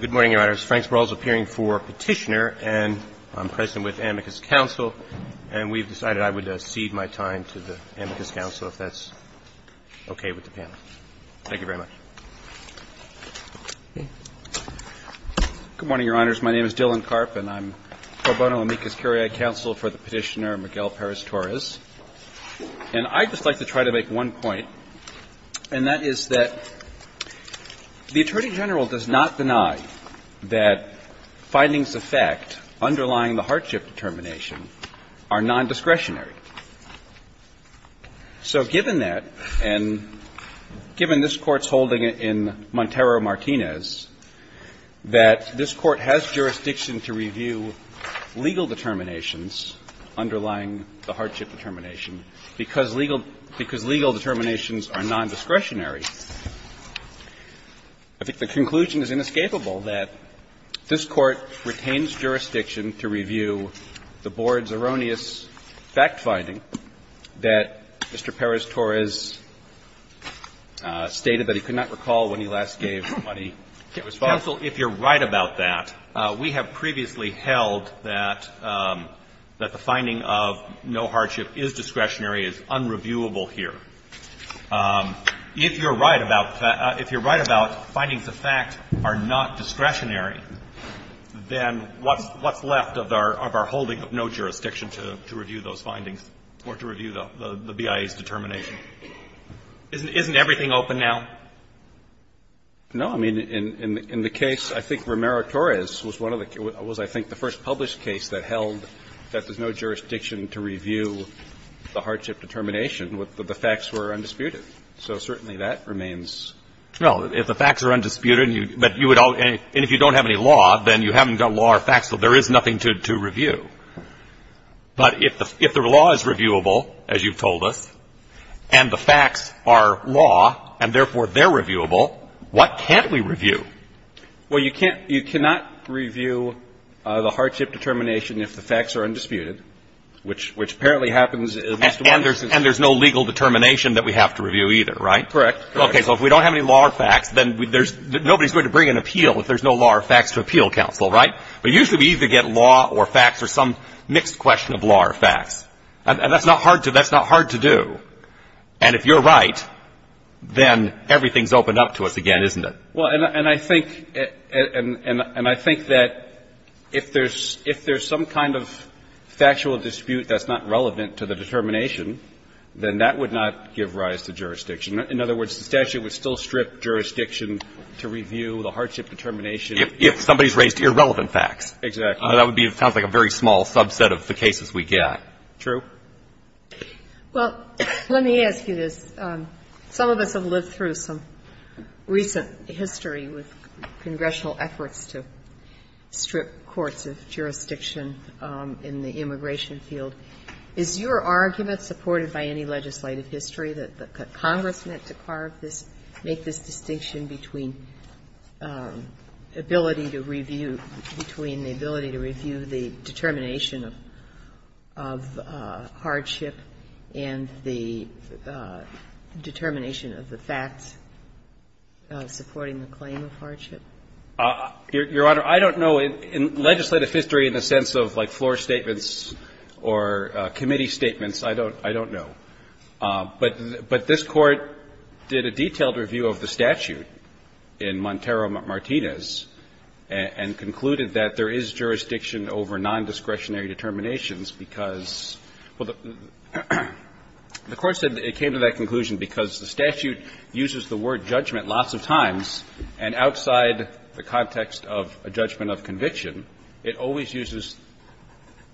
Good morning, Your Honors. Frank Sparrow is appearing for Petitioner, and I'm present with Amicus Council, and we've decided I would cede my time to the Amicus Council if that's okay with the panel. Thank you very much. Good morning, Your Honors. My name is Dylan Karp, and I'm pro bono Amicus Cariad Council for the Petitioner, Miguel Perez-Torres. And I'd just like to try to make one point, and that is that the Attorney General does not deny that findings of fact underlying the hardship determination are non-discretionary. So given that, and given this Court's holding in Montero-Martinez, that this Court has jurisdiction to review legal determinations underlying the hardship determination because legal determinations are non-discretionary, I think the conclusion is inescapable that this Court retains jurisdiction to review the Board's erroneous fact finding that Mr. Perez-Torres stated that he could not recall when he last gave money to his father. And, counsel, if you're right about that, we have previously held that the finding of no hardship is discretionary, is unreviewable here. If you're right about findings of fact are not discretionary, then what's left of our holding of no jurisdiction to review those findings or to review the BIA's determination? Isn't everything open now? No. I mean, in the case, I think Romero-Torres was one of the – was, I think, the first published case that held that there's no jurisdiction to review the hardship determination, that the facts were undisputed. So certainly that remains. Well, if the facts are undisputed and you – and if you don't have any law, then you haven't got law or facts, so there is nothing to review. But if the law is reviewable, as you've told us, and the facts are law, and therefore they're reviewable, what can't we review? Well, you can't – you cannot review the hardship determination if the facts are undisputed, which apparently happens at least once a year. And there's no legal determination that we have to review either, right? Correct. Okay. So if we don't have any law or facts, then there's – nobody's going to bring an appeal if there's no law or facts to appeal, counsel, right? But usually we either get law or facts or some mixed question of law or facts. And that's not hard to – that's not hard to do. And if you're right, then everything's opened up to us again, isn't it? Well, and I think – and I think that if there's – if there's some kind of factual dispute that's not relevant to the determination, then that would not give rise to jurisdiction. In other words, the statute would still strip jurisdiction to review the hardship determination. If somebody's raised irrelevant facts. Exactly. That would be – it sounds like a very small subset of the cases we get. Yeah. True. Well, let me ask you this. Some of us have lived through some recent history with congressional efforts to strip courts of jurisdiction in the immigration field. Is your argument, supported by any legislative history, that Congress meant to carve this – make this distinction between ability to review – between the ability to review the determination of hardship and the determination of the facts supporting the claim of hardship? Your Honor, I don't know. In legislative history, in the sense of, like, floor statements or committee statements, I don't – I don't know. But this Court did a detailed review of the statute in Montero-Martinez and concluded that there is jurisdiction over nondiscretionary determinations because – well, the Court said it came to that conclusion because the statute uses the word judgment lots of times, and outside the context of a judgment of conviction, it always uses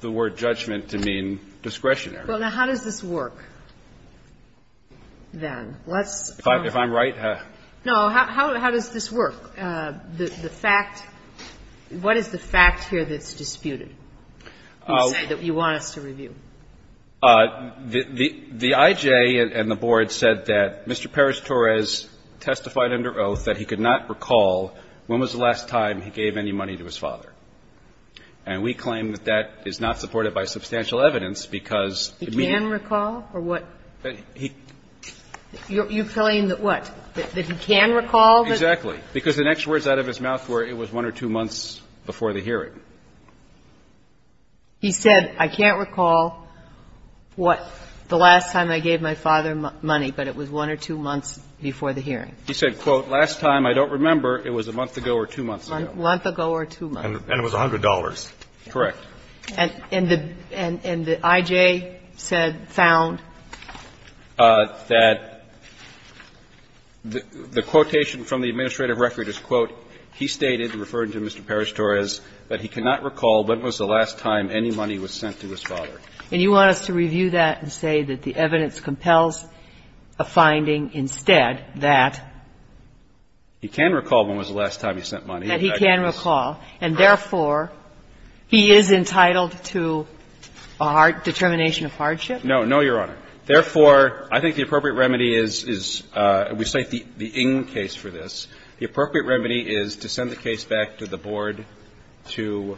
the word judgment to mean discretionary. Well, now, how does this work, then? Let's – If I'm right? No. How does this work? The fact – what is the fact here that's disputed, you say, that you want us to review? The I.J. and the Board said that Mr. Perez-Torres testified under oath that he could not recall when was the last time he gave any money to his father. And we claim that that is not supported by substantial evidence because it means He can recall? Or what? You're telling that, what, that he can recall? Exactly. Because the next words out of his mouth were it was 1 or 2 months before the hearing. He said, I can't recall what the last time I gave my father money, but it was 1 or 2 months before the hearing. He said, quote, last time, I don't remember, it was a month ago or 2 months ago. A month ago or 2 months. And it was $100. Correct. And the I.J. said, found? That the quotation from the administrative record is, quote, he stated, referring to Mr. Perez-Torres, that he cannot recall when was the last time any money was sent to his father. And you want us to review that and say that the evidence compels a finding instead that? He can recall when was the last time he sent money. That he can recall, and therefore, he is entitled to a determination of hardship? No, no, Your Honor. Therefore, I think the appropriate remedy is, we cite the Ng case for this. The appropriate remedy is to send the case back to the board to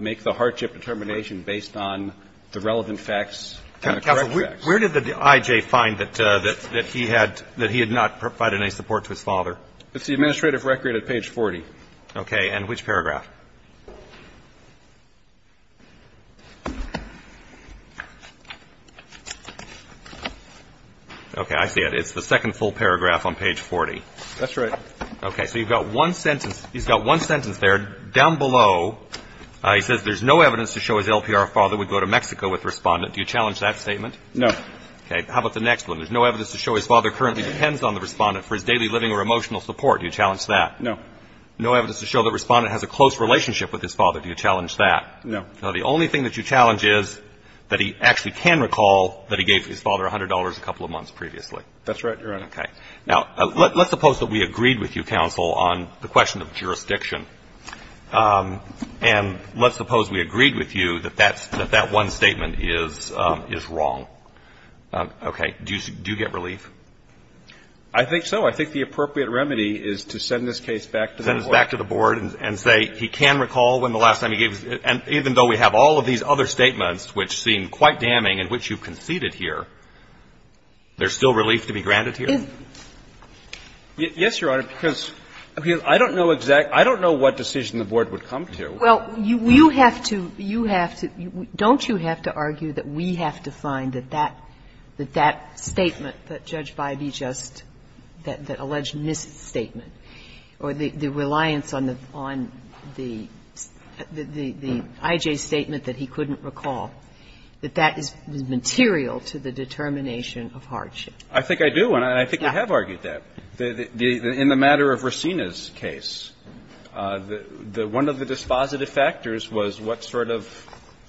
make the hardship determination based on the relevant facts and the correct facts. Counsel, where did the I.J. find that he had not provided any support to his father? It's the administrative record at page 40. Okay. And which paragraph? Okay, I see it. It's the second full paragraph on page 40. That's right. Okay. So you've got one sentence. He's got one sentence there. Down below, he says, there's no evidence to show his LPR father would go to Mexico with the respondent. Do you challenge that statement? No. Okay. How about the next one? There's no evidence to show his father currently depends on the respondent for his daily living or emotional support. Do you challenge that? No. No evidence to show the respondent has a close relationship with his father. Do you challenge that? No. Now, the only thing that you challenge is that he actually can recall that he gave his father $100 a couple of months previously. That's right, Your Honor. Okay. Now, let's suppose that we agreed with you, counsel, on the question of jurisdiction. And let's suppose we agreed with you that that's one statement is wrong. Okay. Do you get relief? I think so. I think the appropriate remedy is to send this case back to the Board. Send this back to the Board and say he can recall when the last time he gave his father, and even though we have all of these other statements which seem quite damning and which you've conceded here, there's still relief to be granted here? Yes, Your Honor, because I don't know exact – I don't know what decision the Board would come to. Well, you have to – you have to – don't you have to argue that we have to find that that – that that statement that Judge Bybee just – that alleged misstatement or the reliance on the – on the – the I.J. statement that he couldn't recall, that that is material to the determination of hardship? I think I do, and I think we have argued that. In the matter of Racina's case, the – one of the dispositive factors was what sort of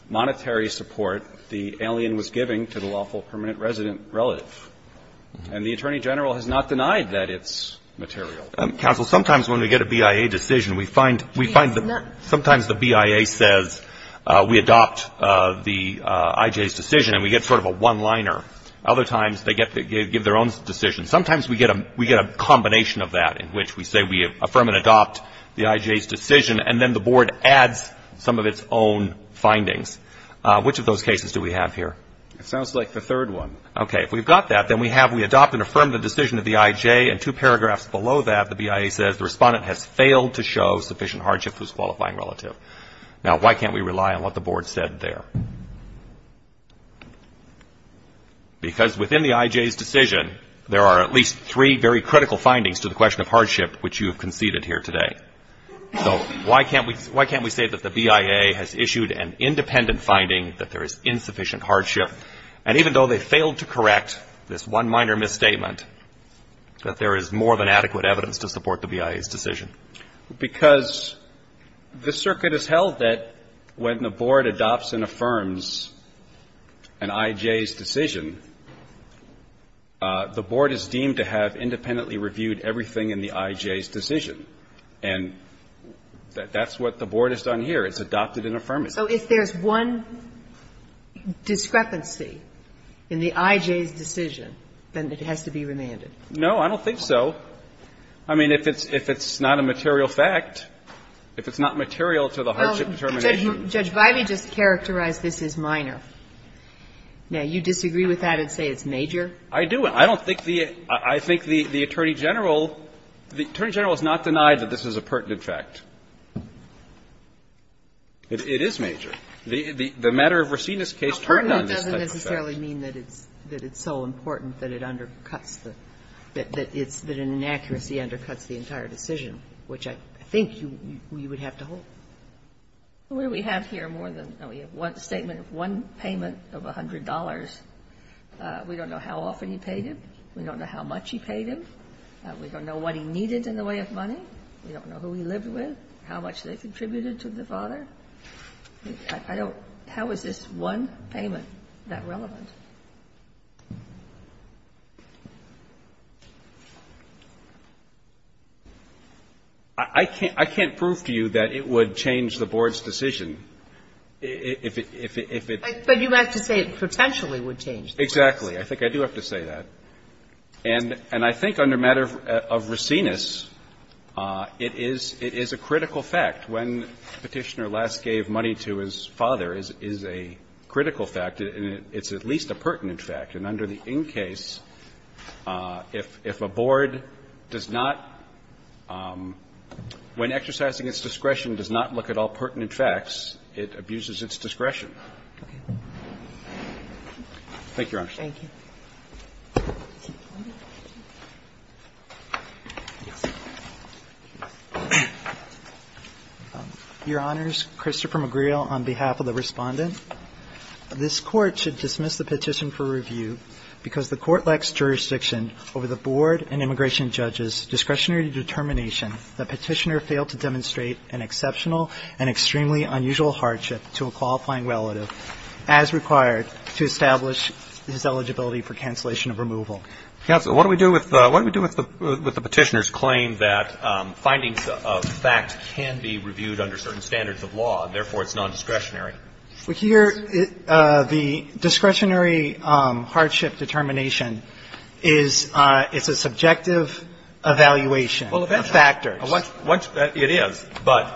monetary support the alien was giving to the lawful permanent resident relative, and the Attorney General has not denied that it's material. Counsel, sometimes when we get a BIA decision, we find – we find that sometimes the BIA says we adopt the I.J.'s decision and we get sort of a one-liner. Other times they get – they give their own decision. Sometimes we get a – we get a combination of that in which we say we affirm and adopt the I.J.'s decision, and then the Board adds some of its own findings. Which of those cases do we have here? It sounds like the third one. Okay. If we've got that, then we have – we adopt and affirm the decision of the I.J., and two paragraphs below that, the BIA says the respondent has failed to show sufficient hardship to his qualifying relative. Now why can't we rely on what the Board said there? Because within the I.J.'s decision, there are at least three very critical findings to the question of hardship which you have conceded here today. So why can't we – why can't we say that the BIA has issued an independent finding that there is insufficient hardship, and even though they failed to correct this one minor misstatement, that there is more than adequate evidence to support the BIA's decision? Because the circuit has held that when the Board adopts and affirms an I.J.'s decision, the Board is deemed to have independently reviewed everything in the I.J.'s decision. And that's what the Board has done here. It's adopted and affirmed it. So if there's one discrepancy in the I.J.'s decision, then it has to be remanded? No, I don't think so. I mean, if it's not a material fact, if it's not material to the hardship determination – Well, Judge Biley just characterized this as minor. Now, you disagree with that and say it's major? I do. I don't think the – I think the Attorney General – the Attorney General has not denied that this is a pertinent fact. It is major. The matter of Racine's case turned on this type of fact. It doesn't necessarily mean that it's so important that it undercuts the – that an inaccuracy undercuts the entire decision, which I think you would have to hold. Well, what do we have here more than – we have one statement of one payment of $100. We don't know how often he paid him. We don't know how much he paid him. We don't know what he needed in the way of money. We don't know who he lived with, how much they contributed to the father. I don't – how is this one payment that relevant? I can't – I can't prove to you that it would change the Board's decision if it – if it But you have to say it potentially would change the Board's decision. Exactly. I think I do have to say that. And I think under matter of Racine's, it is – it is a critical fact. When Petitioner last gave money to his father is a critical fact, and it's at least a pertinent fact. And under the in case, if a Board does not – when exercising its discretion does not look at all pertinent facts, it abuses its discretion. Thank you, Your Honor. Thank you. Your Honors, Christopher McGreal, on behalf of the Respondent, this Court should dismiss the petition for review because the Court lacks jurisdiction over the Board and immigration judge's discretionary determination that Petitioner failed to demonstrate an exceptional and extremely unusual hardship to a qualifying relative as required to establish his eligibility for cancellation of removal. Counsel, what do we do with – what do we do with the Petitioner's claim that findings of fact can be reviewed under certain standards of law, and therefore it's nondiscretionary? Well, here, the discretionary hardship determination is – it's a subjective evaluation of factors. Well, eventually. It is. But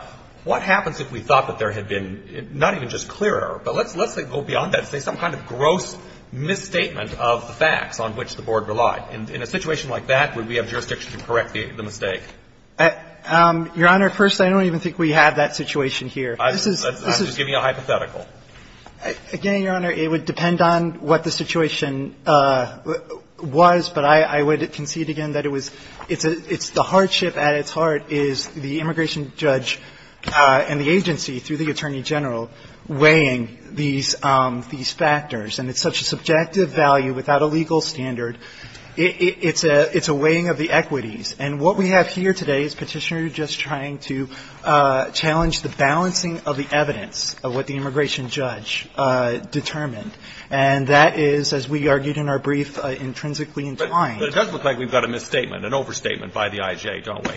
what happens if we thought that there had been – not even just clearer, but let's go beyond that and say some kind of gross misstatement of the facts on which the Board relied? In a situation like that, would we have jurisdiction to correct the mistake? Your Honor, first, I don't even think we have that situation here. I'm just giving you a hypothetical. Again, Your Honor, it would depend on what the situation was, but I would concede again that it was – it's the hardship at its heart is the immigration judge and the agency, through the Attorney General, weighing these factors. And it's such a subjective value without a legal standard. It's a weighing of the equities. And what we have here today is Petitioner just trying to challenge the balancing of the evidence of what the immigration judge determined. And that is, as we argued in our brief, intrinsically entwined. But it does look like we've got a misstatement, an overstatement by the IJ, don't we?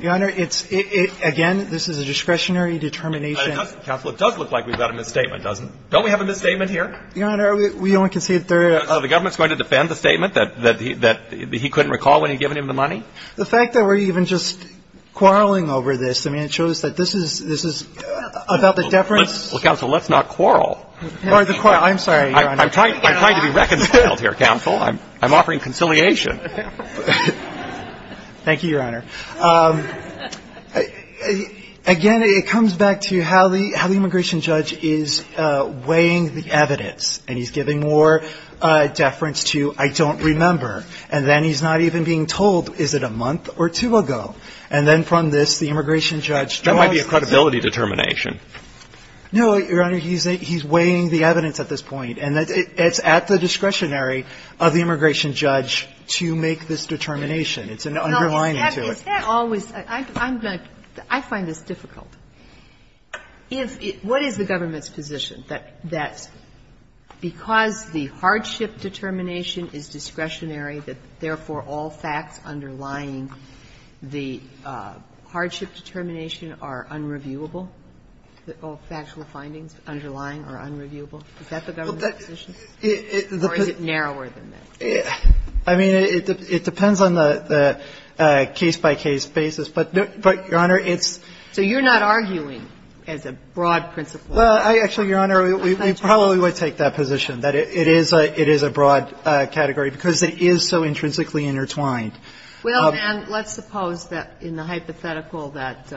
Your Honor, it's – again, this is a discretionary determination. Counsel, it does look like we've got a misstatement, doesn't it? Don't we have a misstatement here? Your Honor, we only concede that there are – So the government's going to defend the statement that he couldn't recall when he'd given him the money? The fact that we're even just quarreling over this, I mean, it shows that this is about the deference. Well, Counsel, let's not quarrel. I'm sorry, Your Honor. I'm trying to be reconciled here, Counsel. I'm offering conciliation. Thank you, Your Honor. Again, it comes back to how the immigration judge is weighing the evidence. And he's giving more deference to, I don't remember. And then he's not even being told, is it a month or two ago? And then from this, the immigration judge draws this. That might be a credibility determination. No, Your Honor. He's weighing the evidence at this point. And it's at the discretionary of the immigration judge to make this determination. It's an underlining to it. Now, is that always – I'm going to – I find this difficult. What is the government's position, that because the hardship determination is discretionary, that therefore all facts underlying the hardship determination are unreviewable, all factual findings underlying are unreviewable? Is that the government's position? Or is it narrower than that? I mean, it depends on the case-by-case basis. But, Your Honor, it's – So you're not arguing as a broad principle. Well, actually, Your Honor, we probably would take that position, that it is a broad category because it is so intrinsically intertwined. Well, and let's suppose that in the hypothetical that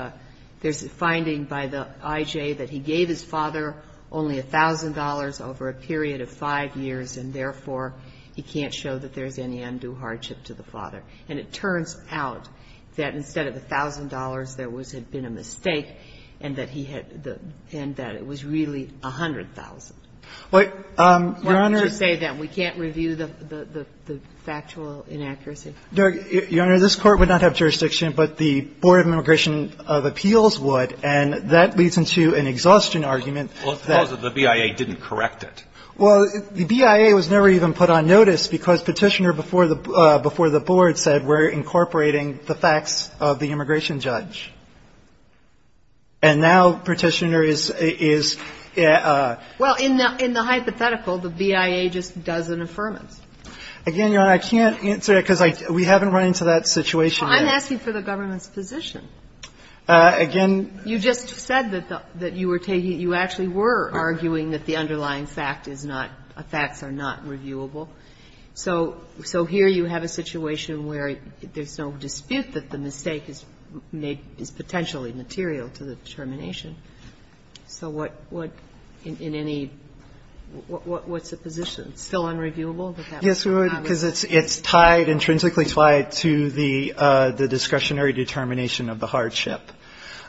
there's a finding by the I.J. that he gave his father only $1,000 over a period of 5 years, and therefore he can't show that there's any undue hardship to the father. And it turns out that instead of $1,000, there was – had been a mistake, and that he had – and that it was really $100,000. Well, Your Honor – Why don't you say that we can't review the factual inaccuracy? Your Honor, this Court would not have jurisdiction, but the Board of Immigration of Appeals would, and that leads into an exhaustion argument that – Well, suppose that the BIA didn't correct it. Well, the BIA was never even put on notice because Petitioner before the – before the Board said, we're incorporating the facts of the immigration judge. And now Petitioner is – is – Well, in the – in the hypothetical, the BIA just does an affirmance. Again, Your Honor, I can't answer that because I – we haven't run into that situation yet. Well, I'm asking for the government's position. Again – You just said that the – that you were taking – you actually were arguing that the underlying fact is not – facts are not reviewable. So here you have a situation where there's no dispute that the mistake is made – is potentially material to the determination. So what – what – in any – what's the position? It's still unreviewable? Yes, Your Honor, because it's tied – intrinsically tied to the discretionary determination of the hardship.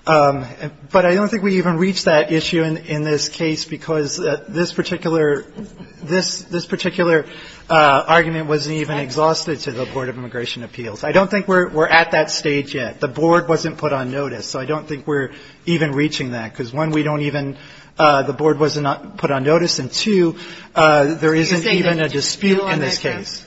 But I don't think we even reached that issue in – in this case because this particular – this – this particular argument wasn't even exhausted to the Board of Immigration Appeals. I don't think we're at that stage yet. The Board wasn't put on notice. So I don't think we're even reaching that because, one, we don't even – the Board was not put on notice. And, two, there isn't even a dispute in this case.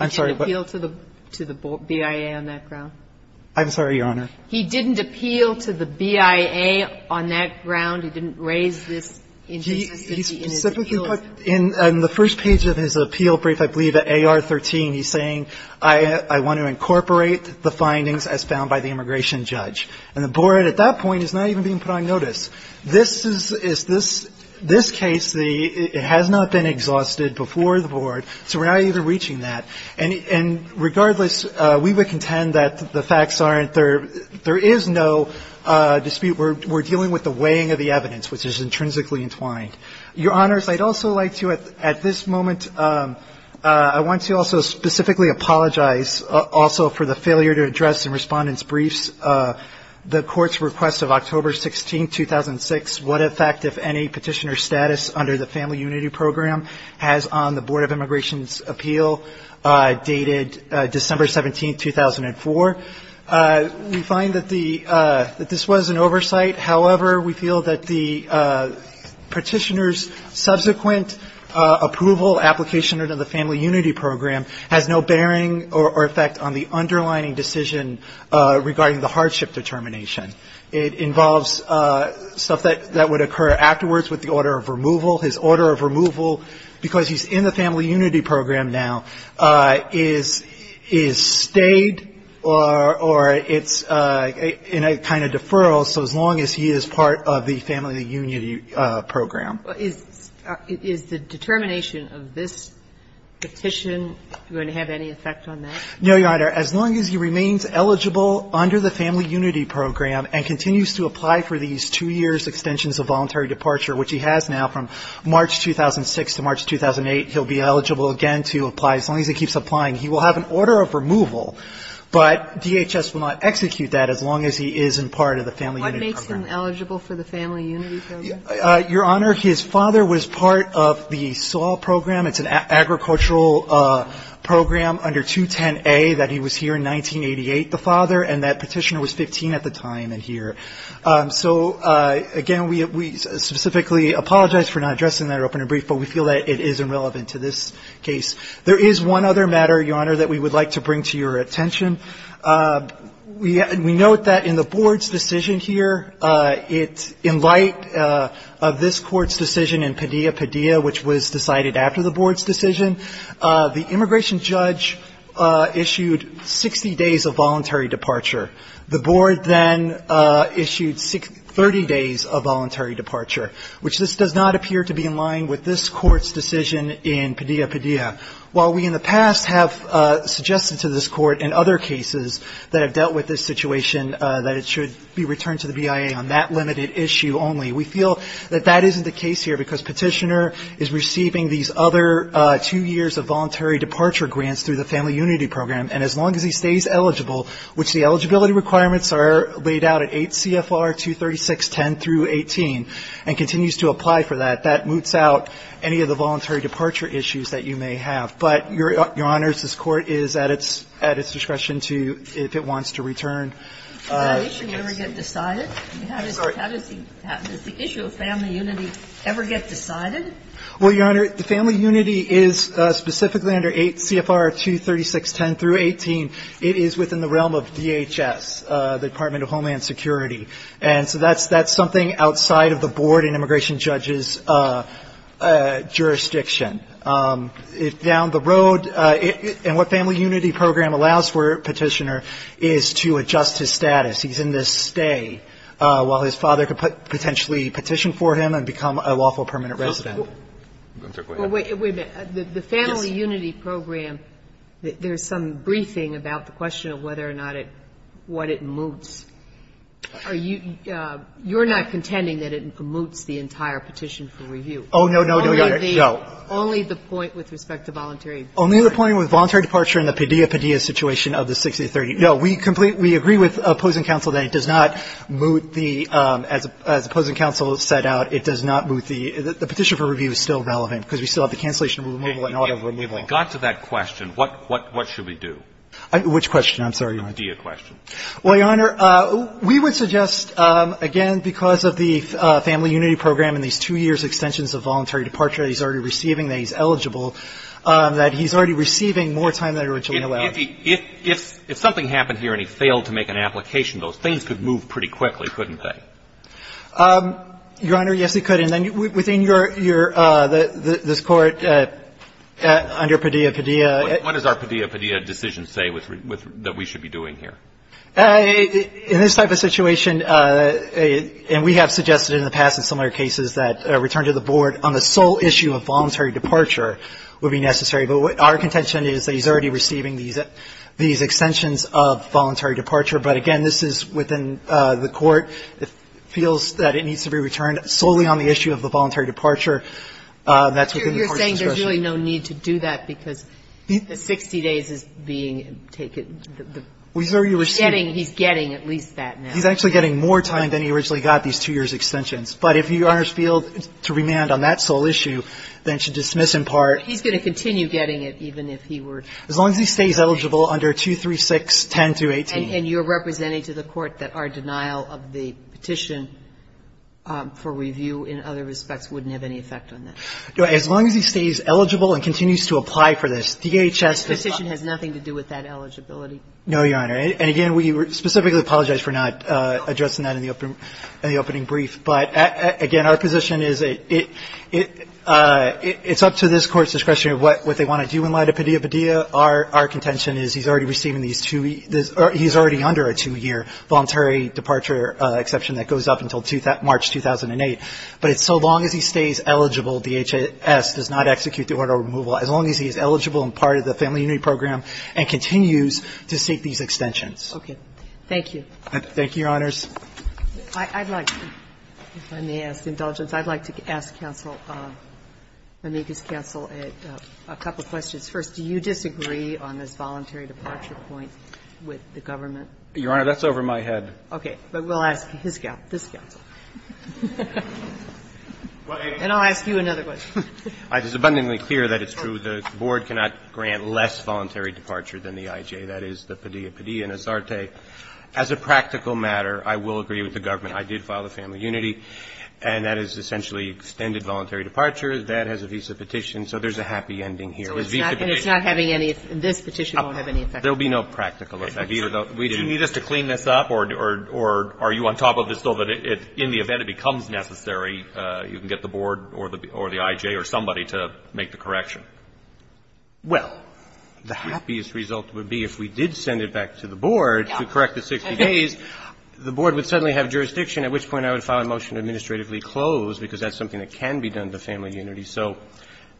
You're saying that he didn't appeal on that ground? I'm sorry, but – I'm sorry, Your Honor. He didn't appeal to the BIA on that ground? He didn't raise this in his appeal? He specifically put – in the first page of his appeal brief, I believe, at AR-13, he's saying, I want to incorporate the findings as found by the immigration judge. And the Board at that point is not even being put on notice. This is – is this – this case, the – it has not been exhausted before the Board, so we're not even reaching that. And regardless, we would contend that the facts aren't – there is no dispute. We're dealing with the weighing of the evidence, which is intrinsically entwined. Your Honors, I'd also like to, at this moment, I want to also specifically apologize also for the failure to address in Respondent's briefs the Court's request of October 16, 2006, what effect, if any, Petitioner's status under the Family Unity Program has on the Board of Immigration's appeal. This is an appeal dated December 17, 2004. We find that the – that this was an oversight. However, we feel that the Petitioner's subsequent approval application under the Family Unity Program has no bearing or effect on the underlining decision regarding the hardship determination. It involves stuff that would occur afterwards with the order of removal. His order of removal, because he's in the Family Unity Program now, is – is stayed or it's in a kind of deferral, so as long as he is part of the Family Unity Program. Is the determination of this petition going to have any effect on that? No, Your Honor. As long as he remains eligible under the Family Unity Program and continues to apply for these two years' extensions of voluntary departure, which he has now from March 2006 to March 2008, he'll be eligible again to apply. As long as he keeps applying, he will have an order of removal, but DHS will not execute that as long as he is in part of the Family Unity Program. What makes him eligible for the Family Unity Program? Your Honor, his father was part of the SAW Program. It's an agricultural program under 210A that he was here in 1988, the father, and that petitioner was 15 at the time and here. So, again, we specifically apologize for not addressing that in open and brief, but we feel that it is irrelevant to this case. There is one other matter, Your Honor, that we would like to bring to your attention. We note that in the Board's decision here, it's in light of this Court's decision in Padilla-Padilla, which was decided after the Board's decision. The immigration judge issued 60 days of voluntary departure. The Board then issued 30 days of voluntary departure, which this does not appear to be in line with this Court's decision in Padilla-Padilla. While we in the past have suggested to this Court in other cases that have dealt with this situation that it should be returned to the BIA on that limited issue only, we feel that that isn't the case here because petitioner is receiving these other two years of voluntary departure grants through the Family Unity Program, and as long as he stays eligible, which the eligibility requirements are laid out at 8 CFR 236.10 through 18 and continues to apply for that, that moots out any of the voluntary departure issues that you may have. But, Your Honor, this Court is at its discretion to, if it wants to return. The issue of Family Unity ever get decided? Well, Your Honor, the Family Unity is specifically under 8 CFR 236.10 through 18. It is within the realm of DHS, the Department of Homeland Security. And so that's something outside of the Board and immigration judge's jurisdiction. Down the road, and what Family Unity Program allows for, Petitioner, is to adjust his status. He's in this stay while his father could potentially petition for him and become a lawful permanent resident. Well, wait a minute. The Family Unity Program, there's some briefing about the question of whether or not it, what it moots. Are you, you're not contending that it moots the entire petition for review? Oh, no, no, no, Your Honor. No. Only the point with respect to voluntary departure. Only the point with voluntary departure and the pedia pedia situation of the 6030. No, we complete, we agree with opposing counsel that it does not moot the, as opposing counsel set out, it does not moot the, the petition for review is still relevant because we still have the cancellation of removal and auto removal. If we got to that question, what, what, what should we do? Which question? I'm sorry, Your Honor. The pedia question. Well, Your Honor, we would suggest, again, because of the Family Unity Program and these two years extensions of voluntary departure he's already receiving, that he's eligible, that he's already receiving more time than originally allowed. If he, if, if something happened here and he failed to make an application, those things could move pretty quickly, couldn't they? Your Honor, yes, they could. And then within your, your, this Court under pedia pedia. What does our pedia pedia decision say with, with, that we should be doing here? In this type of situation, and we have suggested in the past in similar cases that a return to the Board on the sole issue of voluntary departure would be necessary. But our contention is that he's already receiving these, these extensions of voluntary departure, but again, this is within the Court. It feels that it needs to be returned solely on the issue of the voluntary departure. That's within the Court's discretion. You're saying there's really no need to do that because the 60 days is being taken, the, the. He's already receiving. He's getting, he's getting at least that now. He's actually getting more time than he originally got, these two years extensions. But if you, Your Honor, feel to remand on that sole issue, then it should dismiss in part. He's going to continue getting it even if he were. As long as he stays eligible under 236-10218. And you're representing to the Court that our denial of the petition for review in other respects wouldn't have any effect on that. As long as he stays eligible and continues to apply for this, DHS does not. The petition has nothing to do with that eligibility. No, Your Honor. And again, we specifically apologize for not addressing that in the opening, in the opening brief. But again, our position is it, it, it's up to this Court's discretion of what, what they want to do in light of Padilla. In Padilla, our, our contention is he's already receiving these two, he's already under a two-year voluntary departure exception that goes up until March 2008. But it's so long as he stays eligible, DHS does not execute the order of removal. As long as he is eligible and part of the Family Unity Program and continues to seek these extensions. Okay. Thank you. Thank you, Your Honors. I'd like to, if I may ask indulgence, I'd like to ask counsel, Monique's counsel a couple of questions. First, do you disagree on this voluntary departure point with the government? Your Honor, that's over my head. Okay. But we'll ask his counsel, this counsel. And I'll ask you another question. It is abundantly clear that it's true. The Board cannot grant less voluntary departure than the IJ. That is the Padilla, Padilla and Asarte. As a practical matter, I will agree with the government. I did file the Family Unity, and that is essentially extended voluntary departure. That has a visa petition. So there's a happy ending here. And it's not having any, this petition won't have any effect. There will be no practical effect. Do you need us to clean this up? Or are you on top of this so that in the event it becomes necessary, you can get the Board or the IJ or somebody to make the correction? Well, the happiest result would be if we did send it back to the Board to correct the 60 days, the Board would suddenly have jurisdiction, at which point I would file a motion to administratively close, because that's something that can be done to Family Unity. So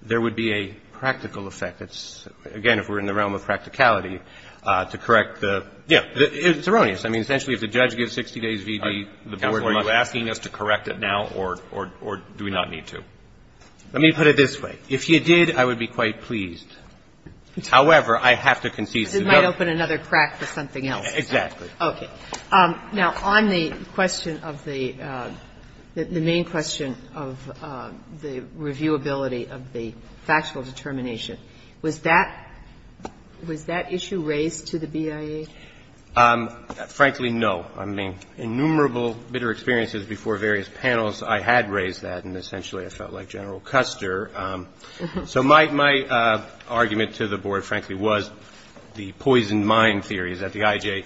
there would be a practical effect. It's, again, if we're in the realm of practicality, to correct the. Yeah. It's erroneous. I mean, essentially, if the judge gives 60 days' V.D., the Board must. Counsel, are you asking us to correct it now, or do we not need to? Let me put it this way. If you did, I would be quite pleased. However, I have to concede to the government. This might open another crack for something else. Exactly. Now, on the question of the main question of the reviewability of the factual determination, was that issue raised to the BIA? Frankly, no. I mean, innumerable bitter experiences before various panels, I had raised that, and essentially I felt like General Custer. So my argument to the Board, frankly, was the poison mine theory, that the IJ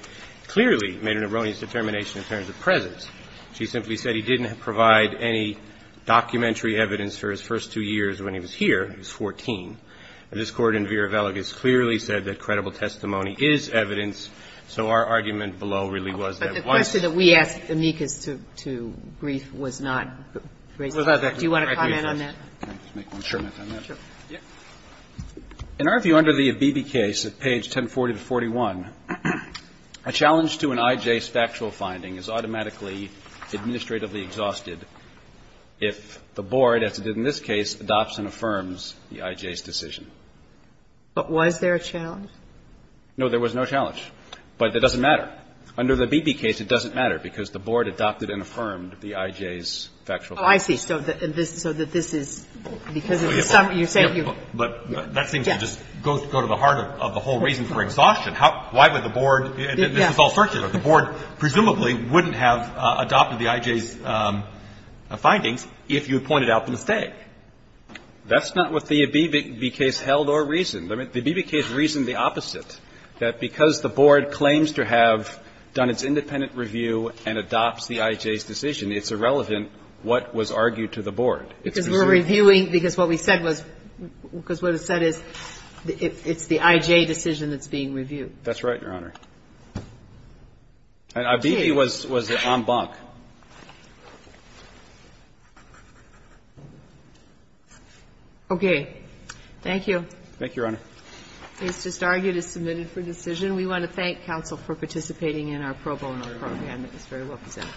clearly made an erroneous determination in terms of presence. She simply said he didn't provide any documentary evidence for his first two years when he was here. He was 14. And this Court in Vera Velagas clearly said that credible testimony is evidence. So our argument below really was that once. But the question that we asked amicus to brief was not raised. Do you want to comment on that? Sure. In our view, under the Beebe case at page 1040-41, a challenge to an IJ's factual finding is automatically administratively exhausted if the Board, as it did in this case, adopts and affirms the IJ's decision. But was there a challenge? No, there was no challenge. But it doesn't matter. Under the Beebe case, it doesn't matter, because the Board adopted and affirmed the IJ's factual finding. Oh, I see. So that this is because of the summary. But that seems to just go to the heart of the whole reason for exhaustion. Why would the Board, and this is all circular. The Board presumably wouldn't have adopted the IJ's findings if you had pointed out the mistake. That's not what the Beebe case held or reasoned. The Beebe case reasoned the opposite, that because the Board claims to have done its independent review and adopts the IJ's decision, it's irrelevant what was argued to the Board. Because we're reviewing, because what we said was, because what it said is, it's the IJ decision that's being reviewed. That's right, Your Honor. And Beebe was en banc. Okay. Thank you. Thank you, Your Honor. Case just argued is submitted for decision. We want to thank counsel for participating in our pro bono program. It was very well presented.